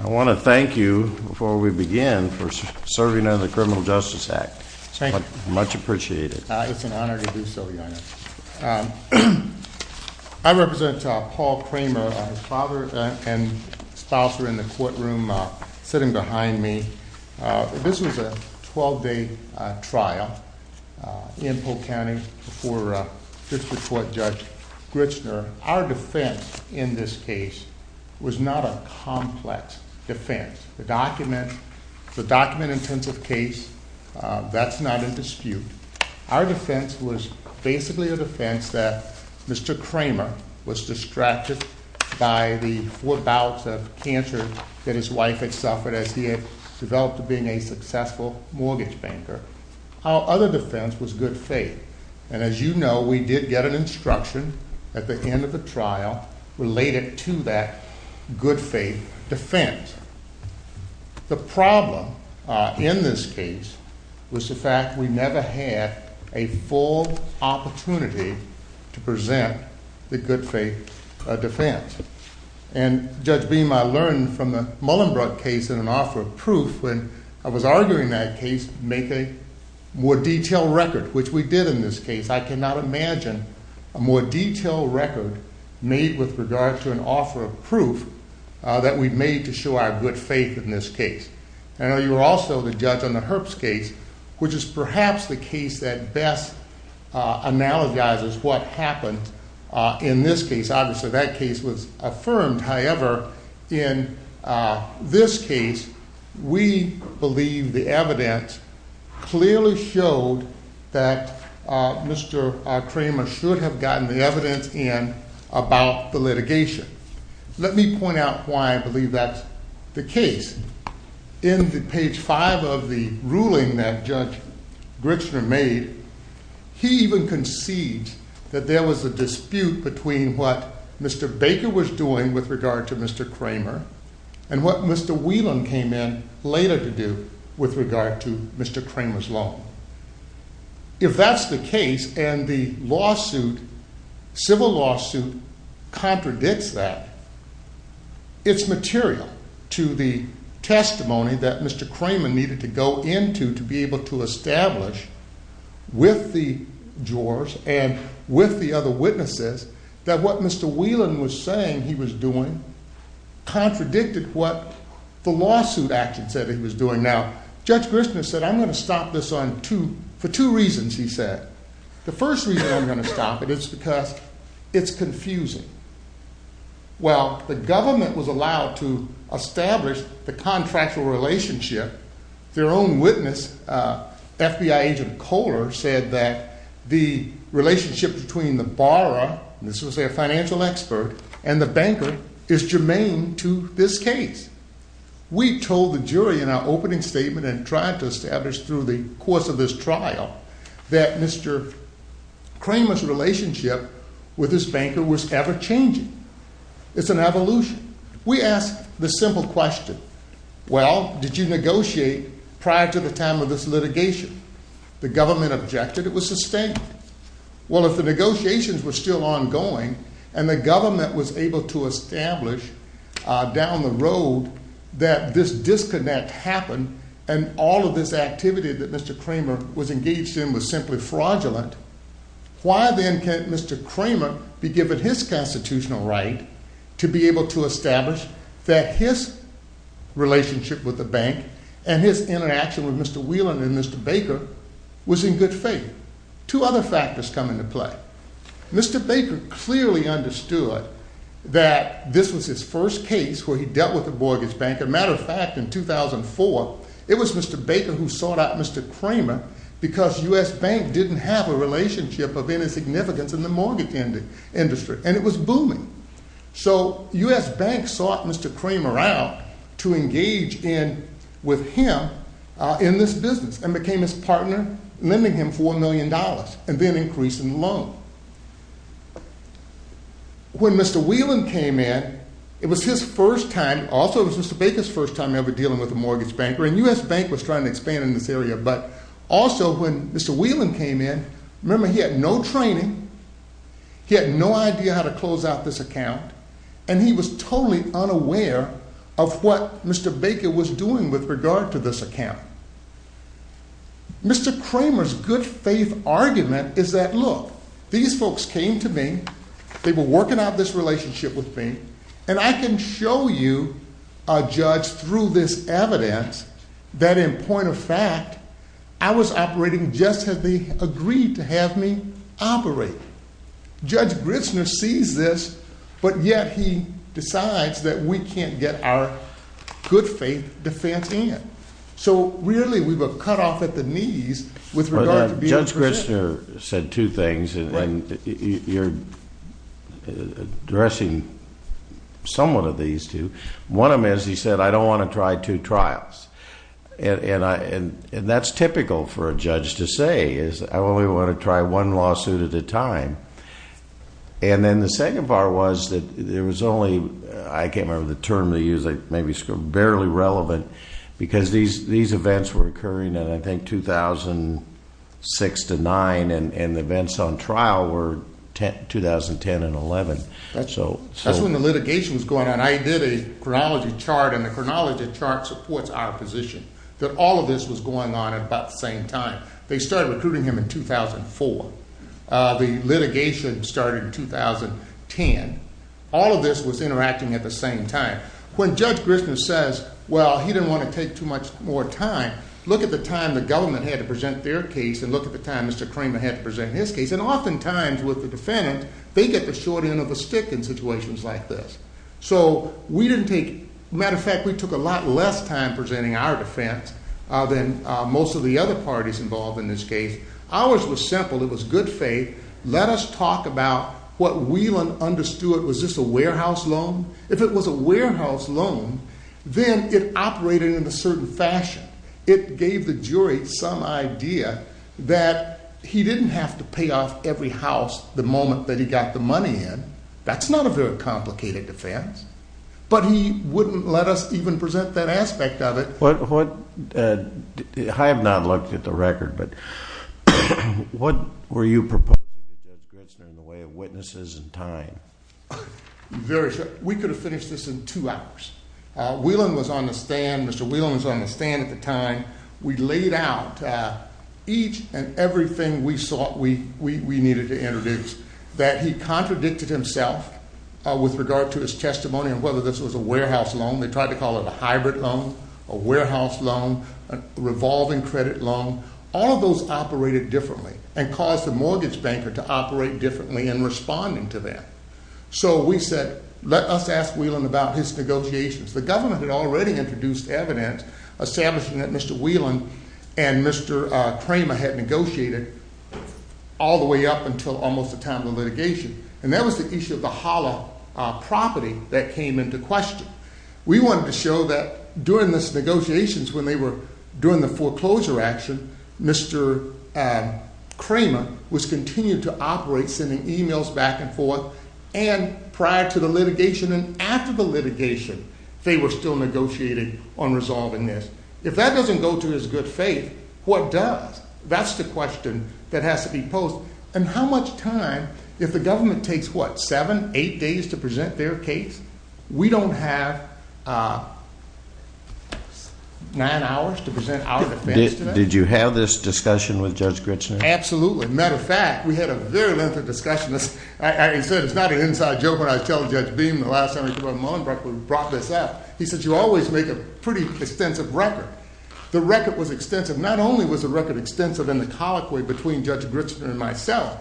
I want to thank you, before we begin, for serving under the Criminal Justice Act. Thank you. Much appreciated. It's an honor to do so, Your Honor. I represent Paul Kramer, father and spouser in the courtroom sitting behind me. This was a 12-day trial in Polk County before District Court Judge Grichner. Our defense in this case was not a complex defense. The document-intensive case, that's not a dispute. Our defense was basically a defense that Mr. Kramer was distracted by the four bouts of cancer that his wife had suffered as he had developed to being a successful mortgage banker. Our other defense was good faith. And as you know, we did get an instruction at the end of the trial related to that good faith defense. The problem in this case was the fact we never had a full opportunity to present the good faith defense. And Judge Beam, I learned from the Mullenbrook case in an offer of proof, when I was arguing that case, make a more detailed record, which we did in this case. I cannot imagine a more detailed record made with regard to an offer of proof that we made to show our good faith in this case. I know you were also the judge on the Herbst case, which is perhaps the case that best analogizes what happened in this case. Obviously, that case was affirmed. However, in this case, we believe the evidence clearly showed that Mr. Kramer should have gotten the evidence in about the litigation. Let me point out why I believe that's the case. In the page five of the ruling that Judge Grichner made, he even concedes that there was a dispute between what Mr. Baker was doing with regard to Mr. Kramer and what Mr. Whelan came in later to do with regard to Mr. Kramer's law. If that's the case and the civil lawsuit contradicts that, it's material to the testimony that Mr. Kramer needed to go into to be able to establish with the jurors and with the other witnesses that what Mr. Whelan was saying he was doing contradicted what the lawsuit action said he was doing. Now, Judge Grichner said, I'm going to stop this for two reasons, he said. The first reason I'm going to stop it is because it's confusing. While the government was allowed to establish the contractual relationship, their own witness, FBI agent Kohler, said that the relationship between the borrower, this was their financial expert, and the banker is germane to this case. We told the jury in our opening statement and tried to establish through the course of this trial that Mr. Kramer's relationship with this banker was ever changing. It's an evolution. We asked the simple question, well, did you negotiate prior to the time of this litigation? The government objected it was sustained. Well, if the negotiations were still ongoing and the government was able to establish down the road that this disconnect happened and all of this activity that Mr. Kramer was engaged in was simply fraudulent, why then can't Mr. Kramer be given his constitutional right to be able to establish that his relationship with the bank and his interaction with Mr. Whelan and Mr. Baker was in good faith? Two other factors come into play. Mr. Baker clearly understood that this was his first case where he dealt with the mortgage bank. As a matter of fact, in 2004, it was Mr. Baker who sought out Mr. Kramer because U.S. Bank didn't have a relationship of any significance in the mortgage industry. And it was booming. So U.S. Bank sought Mr. Kramer out to engage in with him in this business and became his partner, lending him $4 million and then increasing the loan. When Mr. Whelan came in, it was his first time, also it was Mr. Baker's first time ever dealing with a mortgage banker and U.S. Bank was trying to expand in this area, but also when Mr. Whelan came in, remember he had no training, he had no idea how to close out this account and he was totally unaware of what Mr. Baker was doing with regard to this account. Mr. Kramer's good faith argument is that look, these folks came to me, they were working out this relationship with me and I can show you a judge through this evidence that in point of fact, I was operating just as they agreed to have me operate. Judge Gritzner sees this, but yet he decides that we can't get our good faith defense in. So really we were cut off at the knees with regard to being present. Judge Gritzner said two things and you're addressing somewhat of these two. One of them is he said, I don't want to try two trials. And that's typical for a judge to say is I only want to try one lawsuit at a time. And then the second part was that there was only, I can't remember the term they used, maybe it's barely relevant, because these events were occurring in I think 2006 to 9 and the events on trial were 2010 and 11. That's when the litigation was going on. I did a chronology chart and the chronology chart supports our position that all of this was going on at about the same time. They started recruiting him in 2004. The litigation started in 2010. All of this was interacting at the same time. When Judge Gritzner says, well, he didn't want to take too much more time, look at the time the government had to present their case and look at the time Mr. Kramer had to present his case. And oftentimes with the defendant, they get the short end of the stick in situations like this. So we didn't take, matter of fact, we took a lot less time presenting our defense than most of the other parties involved in this case. Ours was simple. It was good faith. Let us talk about what we understood. Was this a warehouse loan? If it was a warehouse loan, then it operated in a certain fashion. It gave the jury some idea that he didn't have to pay off every house the moment that he got the money in. That's not a very complicated defense, but he wouldn't let us even present that aspect of it. I have not looked at the record, but what were you proposing to Judge Gritzner in the way of witnesses and time? Very short. We could have finished this in two hours. Whelan was on the stand. Mr. Whelan was on the stand at the time. We laid out each and everything we needed to introduce, that he contradicted himself with regard to his testimony and whether this was a warehouse loan. They tried to call it a hybrid loan, a warehouse loan, a revolving credit loan. All of those operated differently and caused the mortgage banker to operate differently in responding to that. So we said, let us ask Whelan about his negotiations. The government had already introduced evidence establishing that Mr. Whelan and Mr. Kramer had negotiated all the way up until almost the time of the litigation. And that was the issue of the Holla property that came into question. We wanted to show that during these negotiations, when they were doing the foreclosure action, Mr. Kramer was continuing to operate, sending emails back and forth. And prior to the litigation and after the litigation, they were still negotiating on resolving this. If that doesn't go to his good faith, what does? That's the question that has to be posed. And how much time, if the government takes what, seven, eight days to present their case? We don't have nine hours to present our defense? Did you have this discussion with Judge Grichner? Absolutely. Matter of fact, we had a very lengthy discussion. As I said, it's not an inside joke when I tell Judge Beam the last time he brought this up. He said, you always make a pretty extensive record. The record was extensive. Not only was the record extensive in the colloquy between Judge Grichner and myself.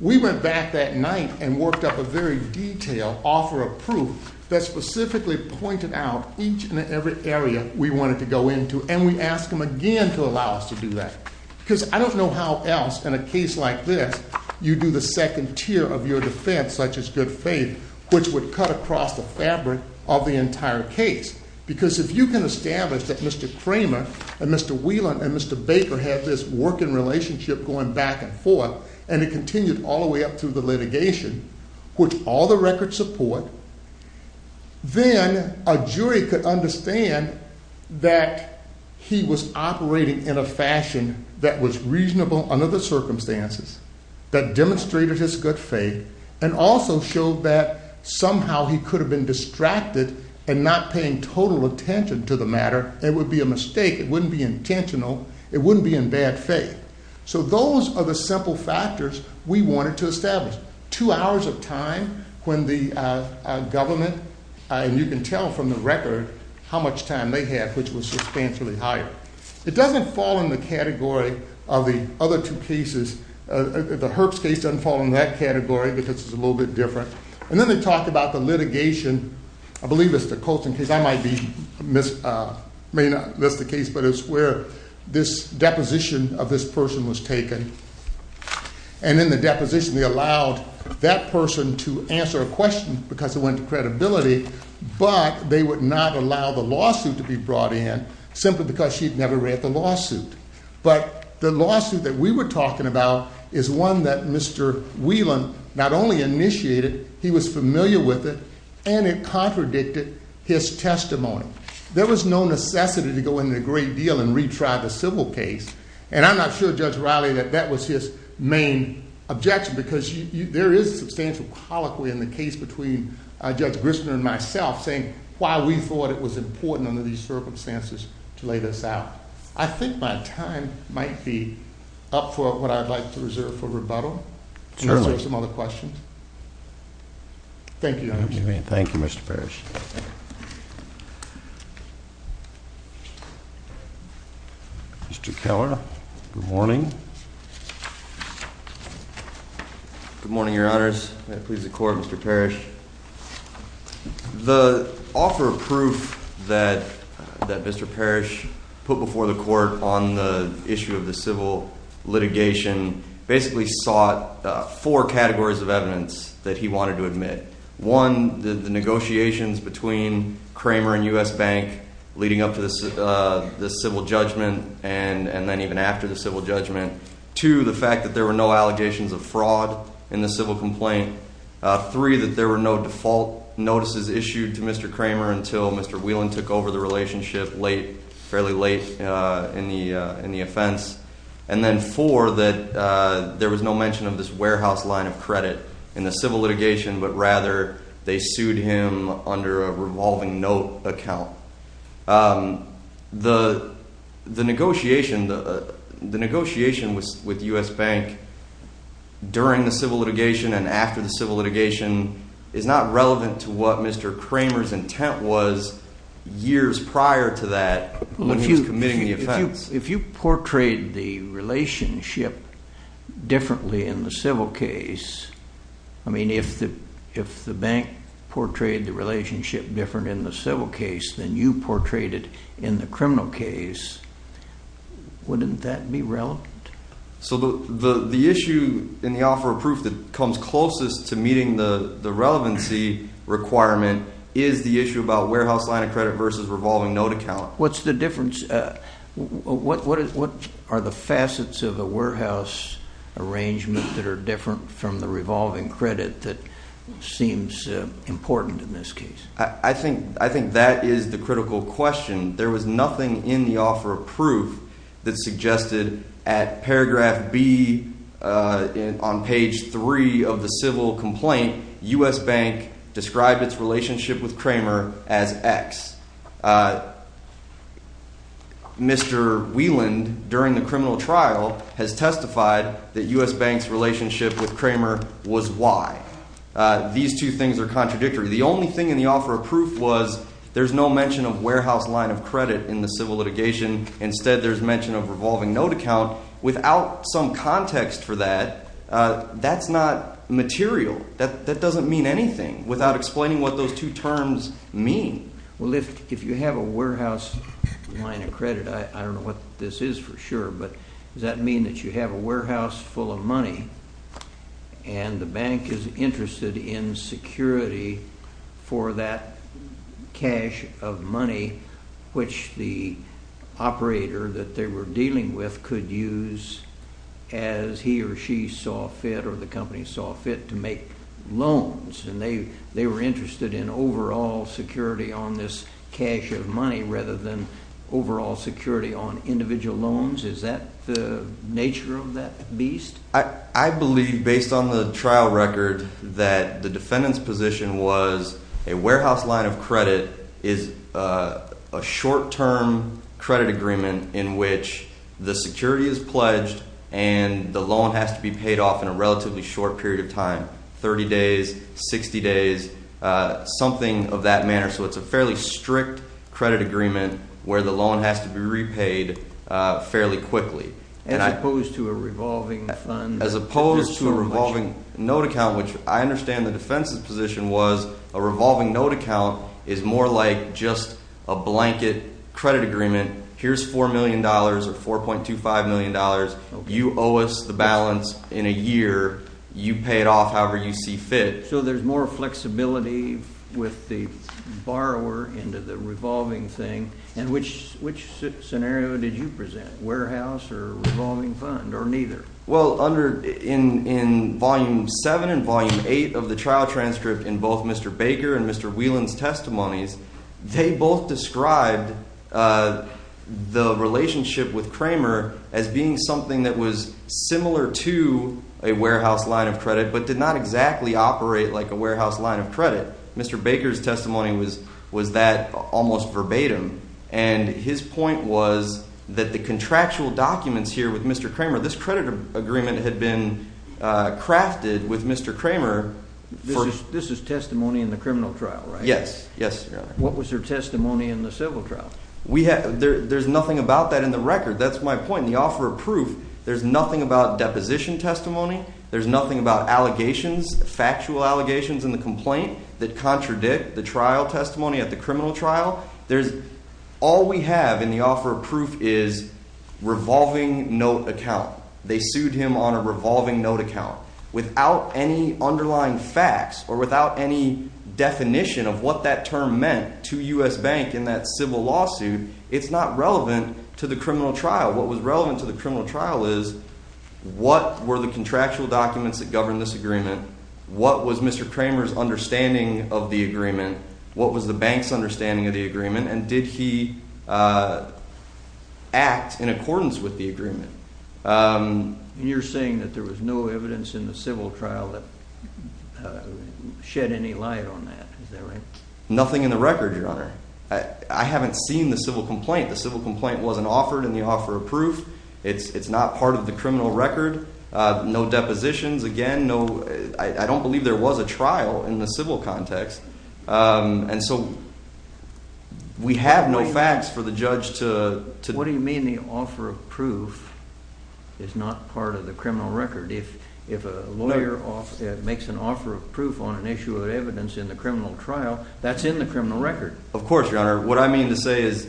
We went back that night and worked up a very detailed offer of proof that specifically pointed out each and every area we wanted to go into. And we asked him again to allow us to do that. Because I don't know how else in a case like this you do the second tier of your defense, such as good faith, which would cut across the fabric of the entire case. Because if you can establish that Mr. Kramer and Mr. Whelan and Mr. Baker had this working relationship going back and forth, and it continued all the way up through the litigation, which all the records support, then a jury could understand that he was operating in a fashion that was reasonable under the circumstances, that demonstrated his good faith, and also showed that somehow he could have been distracted and not paying total attention to the matter. It would be a mistake. It wouldn't be intentional. It wouldn't be in bad faith. So those are the simple factors we wanted to establish. Two hours of time when the government, and you can tell from the record how much time they had, which was substantially higher. It doesn't fall in the category of the other two cases. The Herbst case doesn't fall in that category because it's a little bit different. And then they talk about the litigation. I believe it's the Colston case. I may not miss the case, but it's where this deposition of this person was taken. And in the deposition they allowed that person to answer a question because it went to credibility, but they would not allow the lawsuit to be brought in simply because she'd never read the lawsuit. But the lawsuit that we were talking about is one that Mr. Whelan not only initiated, he was familiar with it, and it contradicted his testimony. There was no necessity to go into a great deal and retry the civil case, and I'm not sure, Judge Riley, that that was his main objection because there is substantial colloquy in the case between Judge Grissman and myself saying why we thought it was important under these circumstances to lay this out. I think my time might be up for what I'd like to reserve for rebuttal. Certainly. Are there some other questions? Thank you, Your Honor. Thank you, Mr. Parrish. Mr. Keller, good morning. Good morning, Your Honors. May it please the Court, Mr. Parrish. The offer of proof that Mr. Parrish put before the Court on the issue of the civil litigation basically sought four categories of evidence that he wanted to admit. One, the negotiations between Kramer and U.S. Bank leading up to the civil judgment and then even after the civil judgment. Two, the fact that there were no allegations of fraud in the civil complaint. Three, that there were no default notices issued to Mr. Kramer until Mr. Whelan took over the relationship fairly late in the offense. And then four, that there was no mention of this warehouse line of credit in the civil litigation, but rather they sued him under a revolving note account. The negotiation with U.S. Bank during the civil litigation and after the civil litigation is not relevant to what Mr. Kramer's intent was years prior to that when he was committing the offense. If you portrayed the relationship differently in the civil case, I mean, if the bank portrayed the relationship different in the civil case than you portrayed it in the criminal case, wouldn't that be relevant? So the issue in the offer of proof that comes closest to meeting the relevancy requirement is the issue about warehouse line of credit versus revolving note account. What's the difference? What are the facets of a warehouse arrangement that are different from the revolving credit that seems important in this case? I think that is the critical question. There was nothing in the offer of proof that suggested at paragraph B on page 3 of the civil complaint, U.S. Bank described its relationship with Kramer as X. Mr. Wieland during the criminal trial has testified that U.S. Bank's relationship with Kramer was Y. These two things are contradictory. The only thing in the offer of proof was there's no mention of warehouse line of credit in the civil litigation. Instead, there's mention of revolving note account. Without some context for that, that's not material. That doesn't mean anything without explaining what those two terms mean. Well, if you have a warehouse line of credit, I don't know what this is for sure, but does that mean that you have a warehouse full of money and the bank is interested in security for that cash of money which the operator that they were dealing with could use as he or she saw fit or the company saw fit to make loans and they were interested in overall security on this cash of money rather than overall security on individual loans? Is that the nature of that beast? I believe based on the trial record that the defendant's position was a warehouse line of credit is a short-term credit agreement in which the security is pledged and the loan has to be paid off in a relatively short period of time, 30 days, 60 days, something of that manner. So it's a fairly strict credit agreement where the loan has to be repaid fairly quickly. As opposed to a revolving fund? As opposed to a revolving note account, which I understand the defense's position was a revolving note account is more like just a blanket credit agreement. Here's $4 million or $4.25 million. You owe us the balance in a year. You pay it off however you see fit. So there's more flexibility with the borrower into the revolving thing. And which scenario did you present, warehouse or revolving fund or neither? Well, under in Volume 7 and Volume 8 of the trial transcript in both Mr. Baker and Mr. Whelan's testimonies, they both described the relationship with Kramer as being something that was similar to a warehouse line of credit but did not exactly operate like a warehouse line of credit. Mr. Baker's testimony was that almost verbatim. And his point was that the contractual documents here with Mr. Kramer, this credit agreement had been crafted with Mr. Kramer. This is testimony in the criminal trial, right? Yes. What was your testimony in the civil trial? There's nothing about that in the record. That's my point. In the offer of proof, there's nothing about deposition testimony. There's nothing about allegations, factual allegations in the complaint that contradict the trial testimony at the criminal trial. There's – all we have in the offer of proof is revolving note account. They sued him on a revolving note account. Without any underlying facts or without any definition of what that term meant to U.S. Bank in that civil lawsuit, it's not relevant to the criminal trial. What was relevant to the criminal trial is what were the contractual documents that govern this agreement? What was Mr. Kramer's understanding of the agreement? What was the bank's understanding of the agreement? And did he act in accordance with the agreement? You're saying that there was no evidence in the civil trial that shed any light on that. Is that right? Nothing in the record, Your Honor. I haven't seen the civil complaint. The civil complaint wasn't offered in the offer of proof. It's not part of the criminal record. No depositions. Again, no – I don't believe there was a trial in the civil context. And so we have no facts for the judge to – What do you mean the offer of proof is not part of the criminal record? If a lawyer makes an offer of proof on an issue of evidence in the criminal trial, that's in the criminal record. Of course, Your Honor. What I mean to say is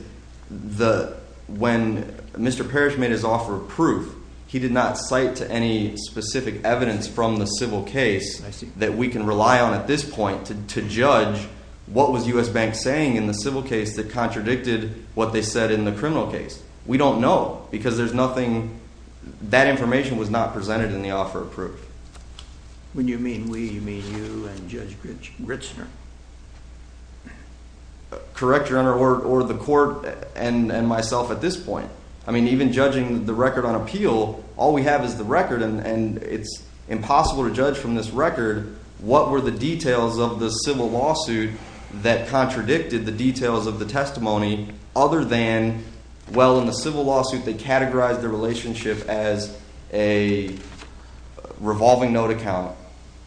when Mr. Parrish made his offer of proof, he did not cite any specific evidence from the civil case that we can rely on at this point to judge what was U.S. Bank saying in the civil case that contradicted what they said in the criminal case. We don't know because there's nothing – that information was not presented in the offer of proof. When you mean we, you mean you and Judge Gritzner. Correct, Your Honor, or the court and myself at this point. I mean even judging the record on appeal, all we have is the record, and it's impossible to judge from this record what were the details of the civil lawsuit that contradicted the details of the testimony other than, well, in the civil lawsuit they categorized the relationship as a revolving note account,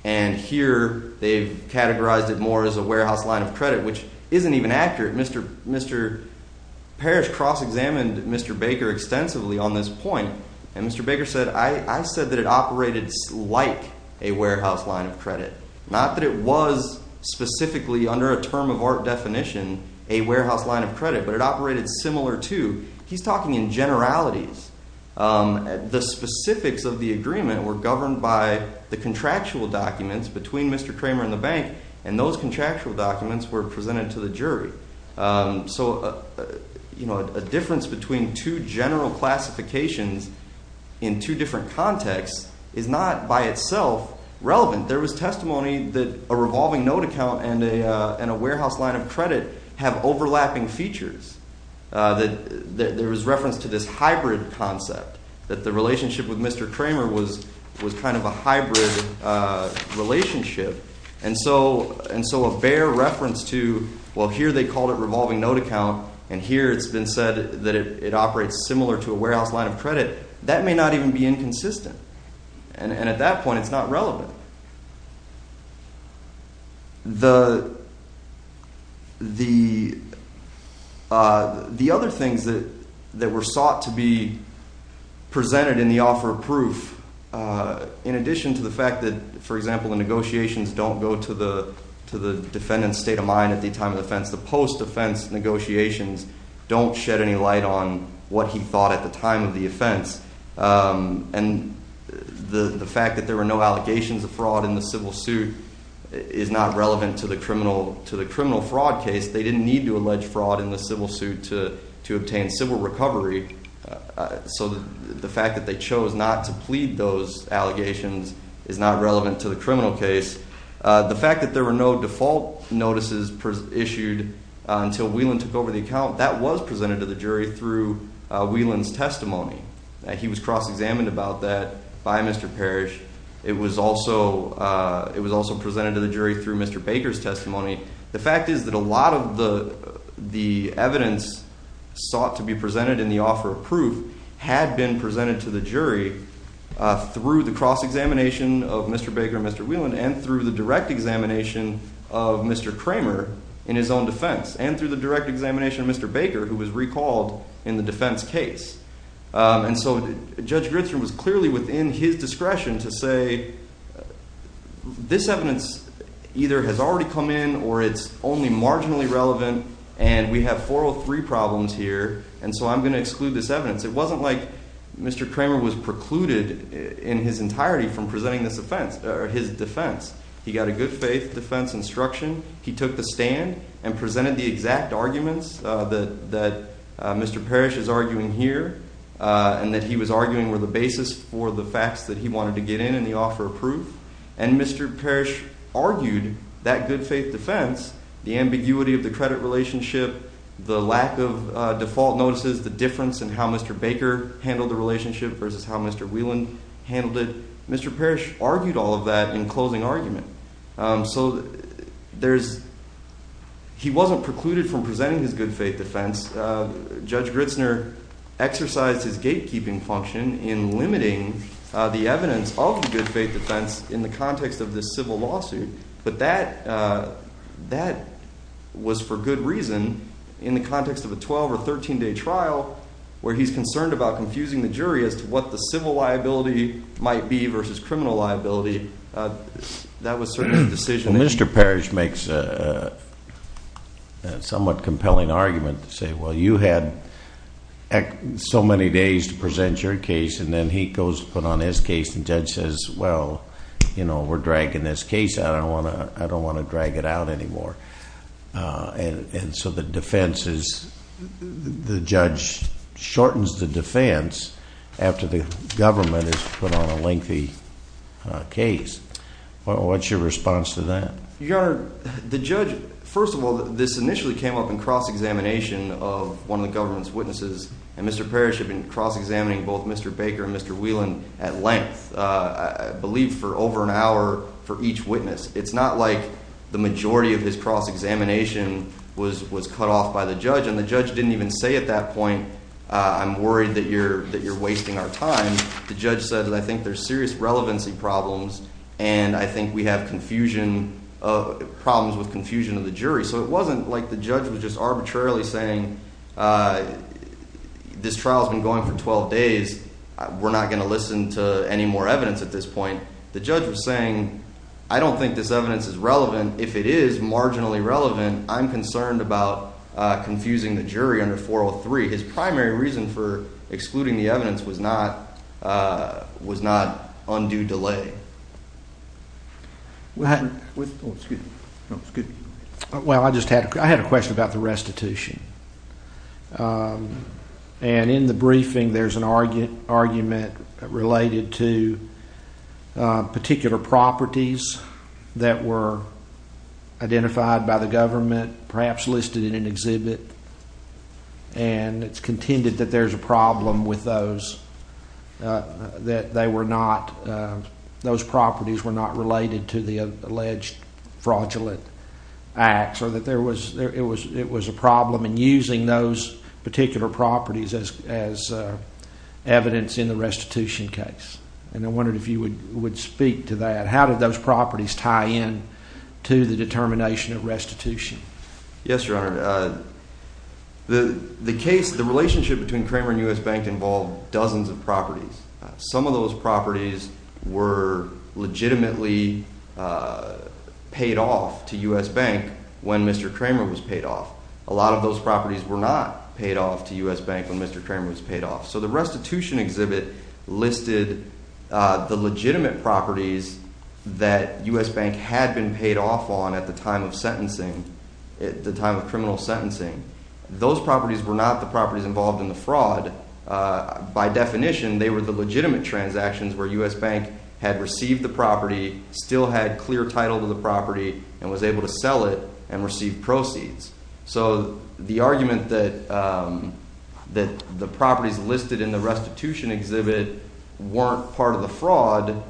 and here they've categorized it more as a warehouse line of credit, which isn't even accurate. Mr. Parrish cross-examined Mr. Baker extensively on this point, and Mr. Baker said, I said that it operated like a warehouse line of credit. Not that it was specifically under a term of art definition a warehouse line of credit, but it operated similar to. He's talking in generalities. The specifics of the agreement were governed by the contractual documents between Mr. Kramer and the bank, and those contractual documents were presented to the jury. So, you know, a difference between two general classifications in two different contexts is not by itself relevant. There was testimony that a revolving note account and a warehouse line of credit have overlapping features, that there was reference to this hybrid concept, that the relationship with Mr. Kramer was kind of a hybrid relationship, and so a bare reference to, well, here they called it revolving note account, and here it's been said that it operates similar to a warehouse line of credit, that may not even be inconsistent, and at that point it's not relevant. The other things that were sought to be presented in the offer of proof, in addition to the fact that, for example, the negotiations don't go to the defendant's state of mind at the time of the offense, the post-offense negotiations don't shed any light on what he thought at the time of the offense, and the fact that there were no allegations of fraud in the civil suit is not relevant to the criminal fraud case. They didn't need to allege fraud in the civil suit to obtain civil recovery, so the fact that they chose not to plead those allegations is not relevant to the criminal case. The fact that there were no default notices issued until Whelan took over the account, that was presented to the jury through Whelan's testimony. He was cross-examined about that by Mr. Parrish. It was also presented to the jury through Mr. Baker's testimony. The fact is that a lot of the evidence sought to be presented in the offer of proof had been presented to the jury through the cross-examination of Mr. Baker and Mr. Whelan and through the direct examination of Mr. Kramer in his own defense and through the direct examination of Mr. Baker, who was recalled in the defense case. And so Judge Grittson was clearly within his discretion to say, this evidence either has already come in or it's only marginally relevant and we have 403 problems here, and so I'm going to exclude this evidence. It wasn't like Mr. Kramer was precluded in his entirety from presenting his defense. He got a good-faith defense instruction. He took the stand and presented the exact arguments that Mr. Parrish is arguing here and that he was arguing were the basis for the facts that he wanted to get in in the offer of proof, and Mr. Parrish argued that good-faith defense, the ambiguity of the credit relationship, the lack of default notices, the difference in how Mr. Baker handled the relationship versus how Mr. Whelan handled it, Mr. Parrish argued all of that in closing argument. So he wasn't precluded from presenting his good-faith defense. Judge Gritzner exercised his gatekeeping function in limiting the evidence of the good-faith defense in the context of this civil lawsuit, but that was for good reason in the context of a 12- or 13-day trial where he's concerned about confusing the jury as to what the civil liability might be versus criminal liability. That was certainly a decision that... Well, Mr. Parrish makes a somewhat compelling argument to say, well, you had so many days to present your case, and then he goes to put on his case, and the judge says, well, you know, we're dragging this case out. I don't want to drag it out anymore. And so the defense is... the judge shortens the defense after the government has put on a lengthy case. What's your response to that? Your Honor, the judge... First of all, this initially came up in cross-examination of one of the government's witnesses, and Mr. Parrish had been cross-examining both Mr. Baker and Mr. Whelan at length, I believe for over an hour, for each witness. It's not like the majority of his cross-examination was cut off by the judge, and the judge didn't even say at that point, I'm worried that you're wasting our time. The judge said that I think there's serious relevancy problems, and I think we have problems with confusion of the jury. So it wasn't like the judge was just arbitrarily saying, this trial has been going for 12 days. We're not going to listen to any more evidence at this point. The judge was saying, I don't think this evidence is relevant. If it is marginally relevant, I'm concerned about confusing the jury under 403. His primary reason for excluding the evidence was not undue delay. Well, I just had a question about the restitution. And in the briefing, there's an argument related to particular properties that were identified by the government, perhaps listed in an exhibit, and it's contended that there's a problem with those, that they were not, those properties were not related to the alleged fraudulent acts, or that there was, it was a problem in using those particular properties as evidence in the restitution case. And I wondered if you would speak to that. How did those properties tie in to the determination of restitution? Yes, Your Honor. The case, the relationship between Kramer and U.S. Bank involved dozens of properties. Some of those properties were legitimately paid off to U.S. Bank when Mr. Kramer was paid off. A lot of those properties were not paid off to U.S. Bank when Mr. Kramer was paid off. So the restitution exhibit listed the legitimate properties that U.S. Bank had been paid off on at the time of sentencing, at the time of criminal sentencing. Those properties were not the properties involved in the fraud. By definition, they were the legitimate transactions where U.S. Bank had received the property, still had clear title to the property, and was able to sell it and receive proceeds. So the argument that the properties listed in the restitution exhibit weren't part of the fraud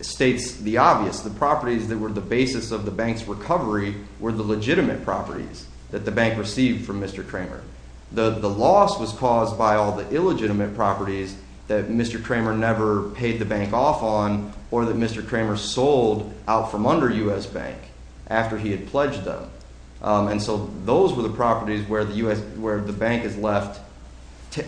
states the obvious. The properties that were the basis of the bank's recovery were the legitimate properties that the bank received from Mr. Kramer. The loss was caused by all the illegitimate properties that Mr. Kramer never paid the bank off on or that Mr. Kramer sold out from under U.S. Bank after he had pledged them. And so those were the properties where the bank is left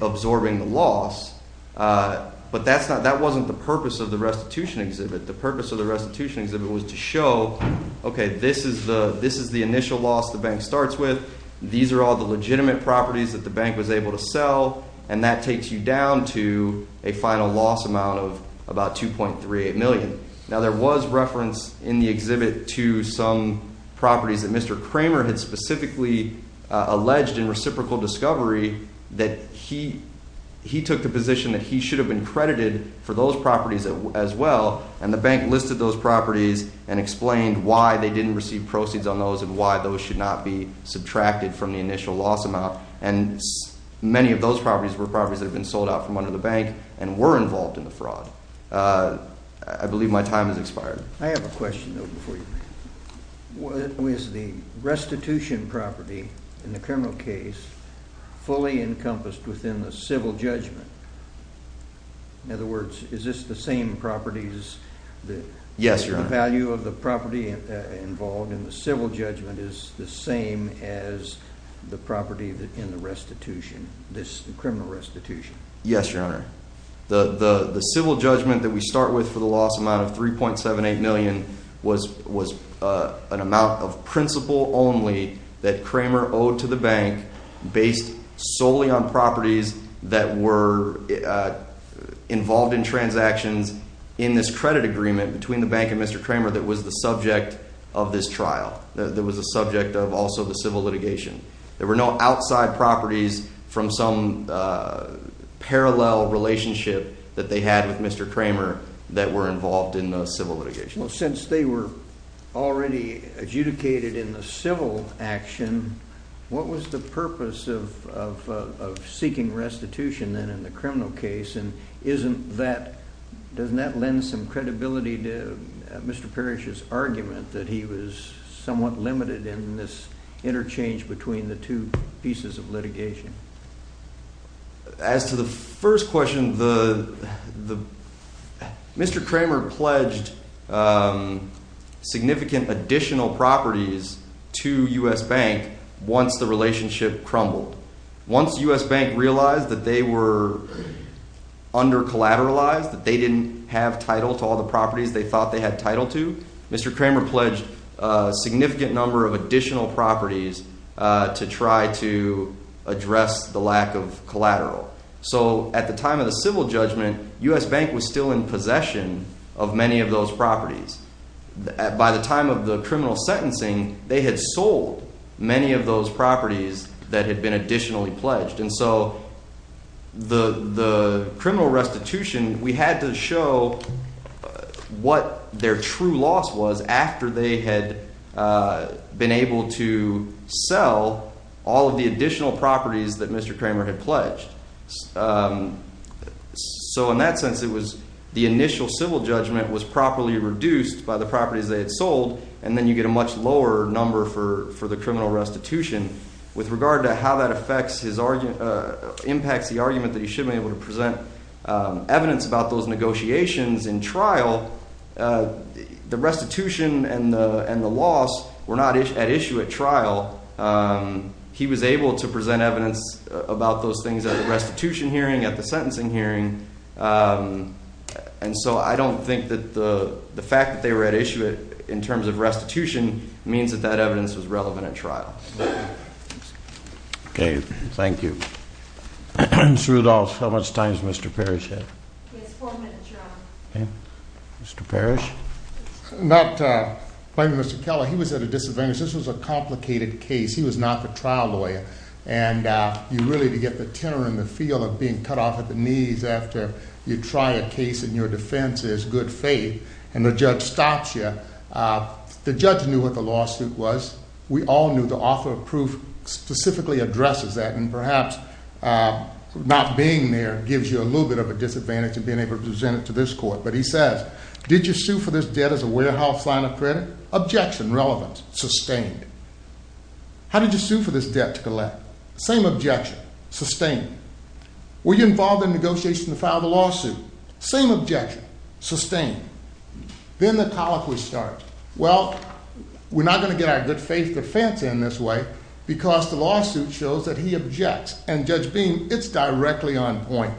absorbing the loss. But that wasn't the purpose of the restitution exhibit. The purpose of the restitution exhibit was to show, okay, this is the initial loss the bank starts with. These are all the legitimate properties that the bank was able to sell. And that takes you down to a final loss amount of about $2.38 million. Now there was reference in the exhibit to some properties that Mr. Kramer had specifically alleged in reciprocal discovery that he took the position that he should have been credited for those properties as well. And the bank listed those properties and explained why they didn't receive proceeds on those and why those should not be subtracted from the initial loss amount. And many of those properties were properties that had been sold out from under the bank and were involved in the fraud. I believe my time has expired. I have a question, though, before you. Was the restitution property in the criminal case fully encompassed within the civil judgment? In other words, is this the same properties that the value of the property involved in the civil judgment is the same as the property in the restitution, this criminal restitution? Yes, Your Honor. The civil judgment that we start with for the loss amount of $3.78 million was an amount of principle only that Kramer owed to the bank based solely on properties that were involved in transactions in this credit agreement between the bank and Mr. Kramer that was the subject of this trial, that was the subject of also the civil litigation. There were no outside properties from some parallel relationship that they had with Mr. Kramer that were involved in the civil litigation. Well, since they were already adjudicated in the civil action, what was the purpose of seeking restitution then in the criminal case? And doesn't that lend some credibility to Mr. Parrish's argument that he was somewhat limited in this interchange between the two pieces of litigation? As to the first question, Mr. Kramer pledged significant additional properties to U.S. Bank once the relationship crumbled. Once U.S. Bank realized that they were under collateralized, that they didn't have title to all the properties they thought they had title to, Mr. Kramer pledged a significant number of additional properties to try to address the lack of collateral. So at the time of the civil judgment, U.S. Bank was still in possession of many of those properties. By the time of the criminal sentencing, they had sold many of those properties that had been additionally pledged. And so the criminal restitution, we had to show what their true loss was after they had been able to sell all of the additional properties that Mr. Kramer had pledged. So in that sense, it was – the initial civil judgment was properly reduced by the properties they had sold, and then you get a much lower number for the criminal restitution. With regard to how that affects his – impacts the argument that he should be able to present evidence about those negotiations in trial, the restitution and the loss were not at issue at trial. He was able to present evidence about those things at the restitution hearing, at the sentencing hearing. And so I don't think that the fact that they were at issue in terms of restitution means that that evidence was relevant at trial. Okay. Thank you. Ms. Rudolph, how much time does Mr. Parrish have? He has four minutes. Okay. Mr. Parrish? Not blaming Mr. Keller. He was at a disadvantage. This was a complicated case. He was not the trial lawyer. And you really – to get the tenor in the field of being cut off at the knees after you try a case in your defense is good faith, and the judge stops you. The judge knew what the lawsuit was. We all knew the author of proof specifically addresses that, and perhaps not being there gives you a little bit of a disadvantage in being able to present it to this court. But he says, did you sue for this debt as a warehouse line of credit? Objection. Relevance. Sustained. How did you sue for this debt to collect? Same objection. Sustained. Were you involved in negotiations to file the lawsuit? Same objection. Sustained. Then the colloquy starts. Well, we're not going to get our good faith defense in this way because the lawsuit shows that he objects, and Judge Beam, it's directly on point.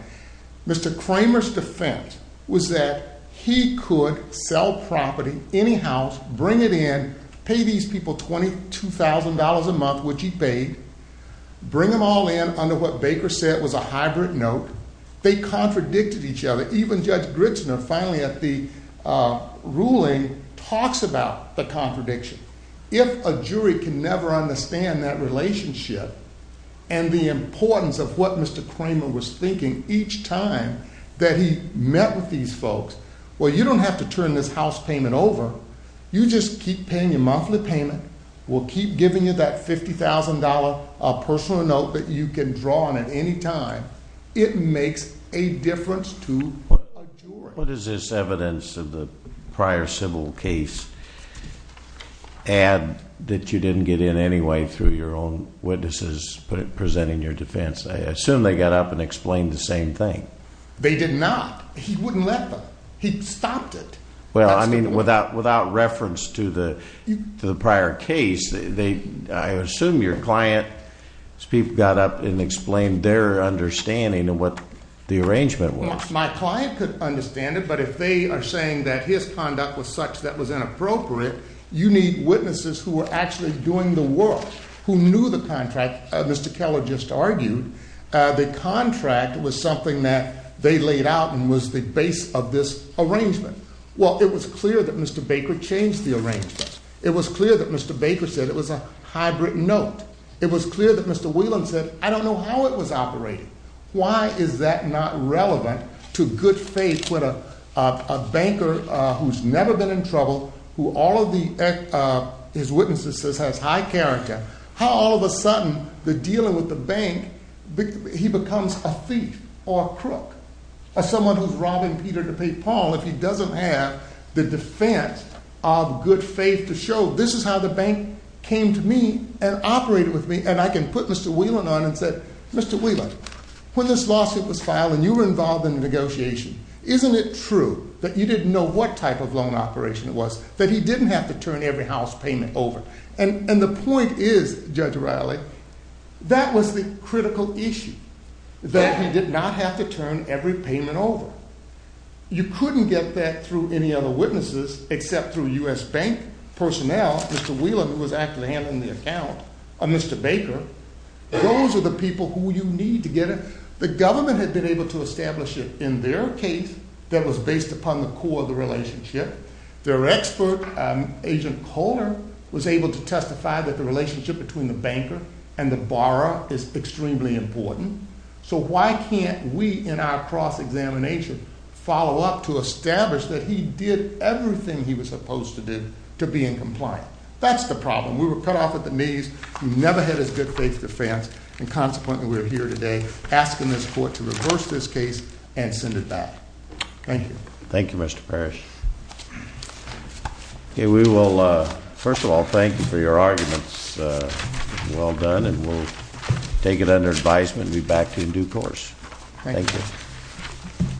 Mr. Kramer's defense was that he could sell property, any house, bring it in, pay these people $22,000 a month, which he paid, bring them all in under what Baker said was a hybrid note. They contradicted each other. Even Judge Gritzner finally at the ruling talks about the contradiction. If a jury can never understand that relationship and the importance of what Mr. Kramer was thinking each time that he met with these folks, well, you don't have to turn this house payment over. You just keep paying your monthly payment. We'll keep giving you that $50,000 personal note that you can draw on at any time. It makes a difference to a jury. What does this evidence of the prior civil case add that you didn't get in anyway through your own witnesses presenting your defense? I assume they got up and explained the same thing. They did not. He wouldn't let them. He stopped it. Well, I mean, without reference to the prior case, I assume your client's people got up and explained their understanding of what the arrangement was. My client could understand it, but if they are saying that his conduct was such that was inappropriate, you need witnesses who were actually doing the work, who knew the contract. As Mr. Keller just argued, the contract was something that they laid out and was the base of this arrangement. Well, it was clear that Mr. Baker changed the arrangement. It was clear that Mr. Baker said it was a hybrid note. It was clear that Mr. Whelan said, I don't know how it was operating. Why is that not relevant to good faith when a banker who's never been in trouble, who all of his witnesses says has high character, how all of a sudden the dealing with the bank, he becomes a thief or a crook. As someone who's robbing Peter to pay Paul, if he doesn't have the defense of good faith to show, this is how the bank came to me and operated with me, and I can put Mr. Whelan on and say, Mr. Whelan, when this lawsuit was filed and you were involved in the negotiation, isn't it true that you didn't know what type of loan operation it was, that he didn't have to turn every house payment over? And the point is, Judge O'Reilly, that was the critical issue, that he did not have to turn every payment over. You couldn't get that through any other witnesses except through U.S. bank personnel. Now, Mr. Whelan, who was actually handling the account, or Mr. Baker, those are the people who you need to get it. The government had been able to establish it in their case that was based upon the core of the relationship. Their expert, Agent Kohler, was able to testify that the relationship between the banker and the borrower is extremely important. So why can't we, in our cross-examination, follow up to establish that he did everything he was supposed to do to be in compliance? That's the problem. We were cut off at the knees. He never had his good faith defense, and consequently, we are here today asking this court to reverse this case and send it back. Thank you. Thank you, Mr. Parrish. We will, first of all, thank you for your arguments. Well done, and we'll take it under advisement and be back to you in due course. Thank you.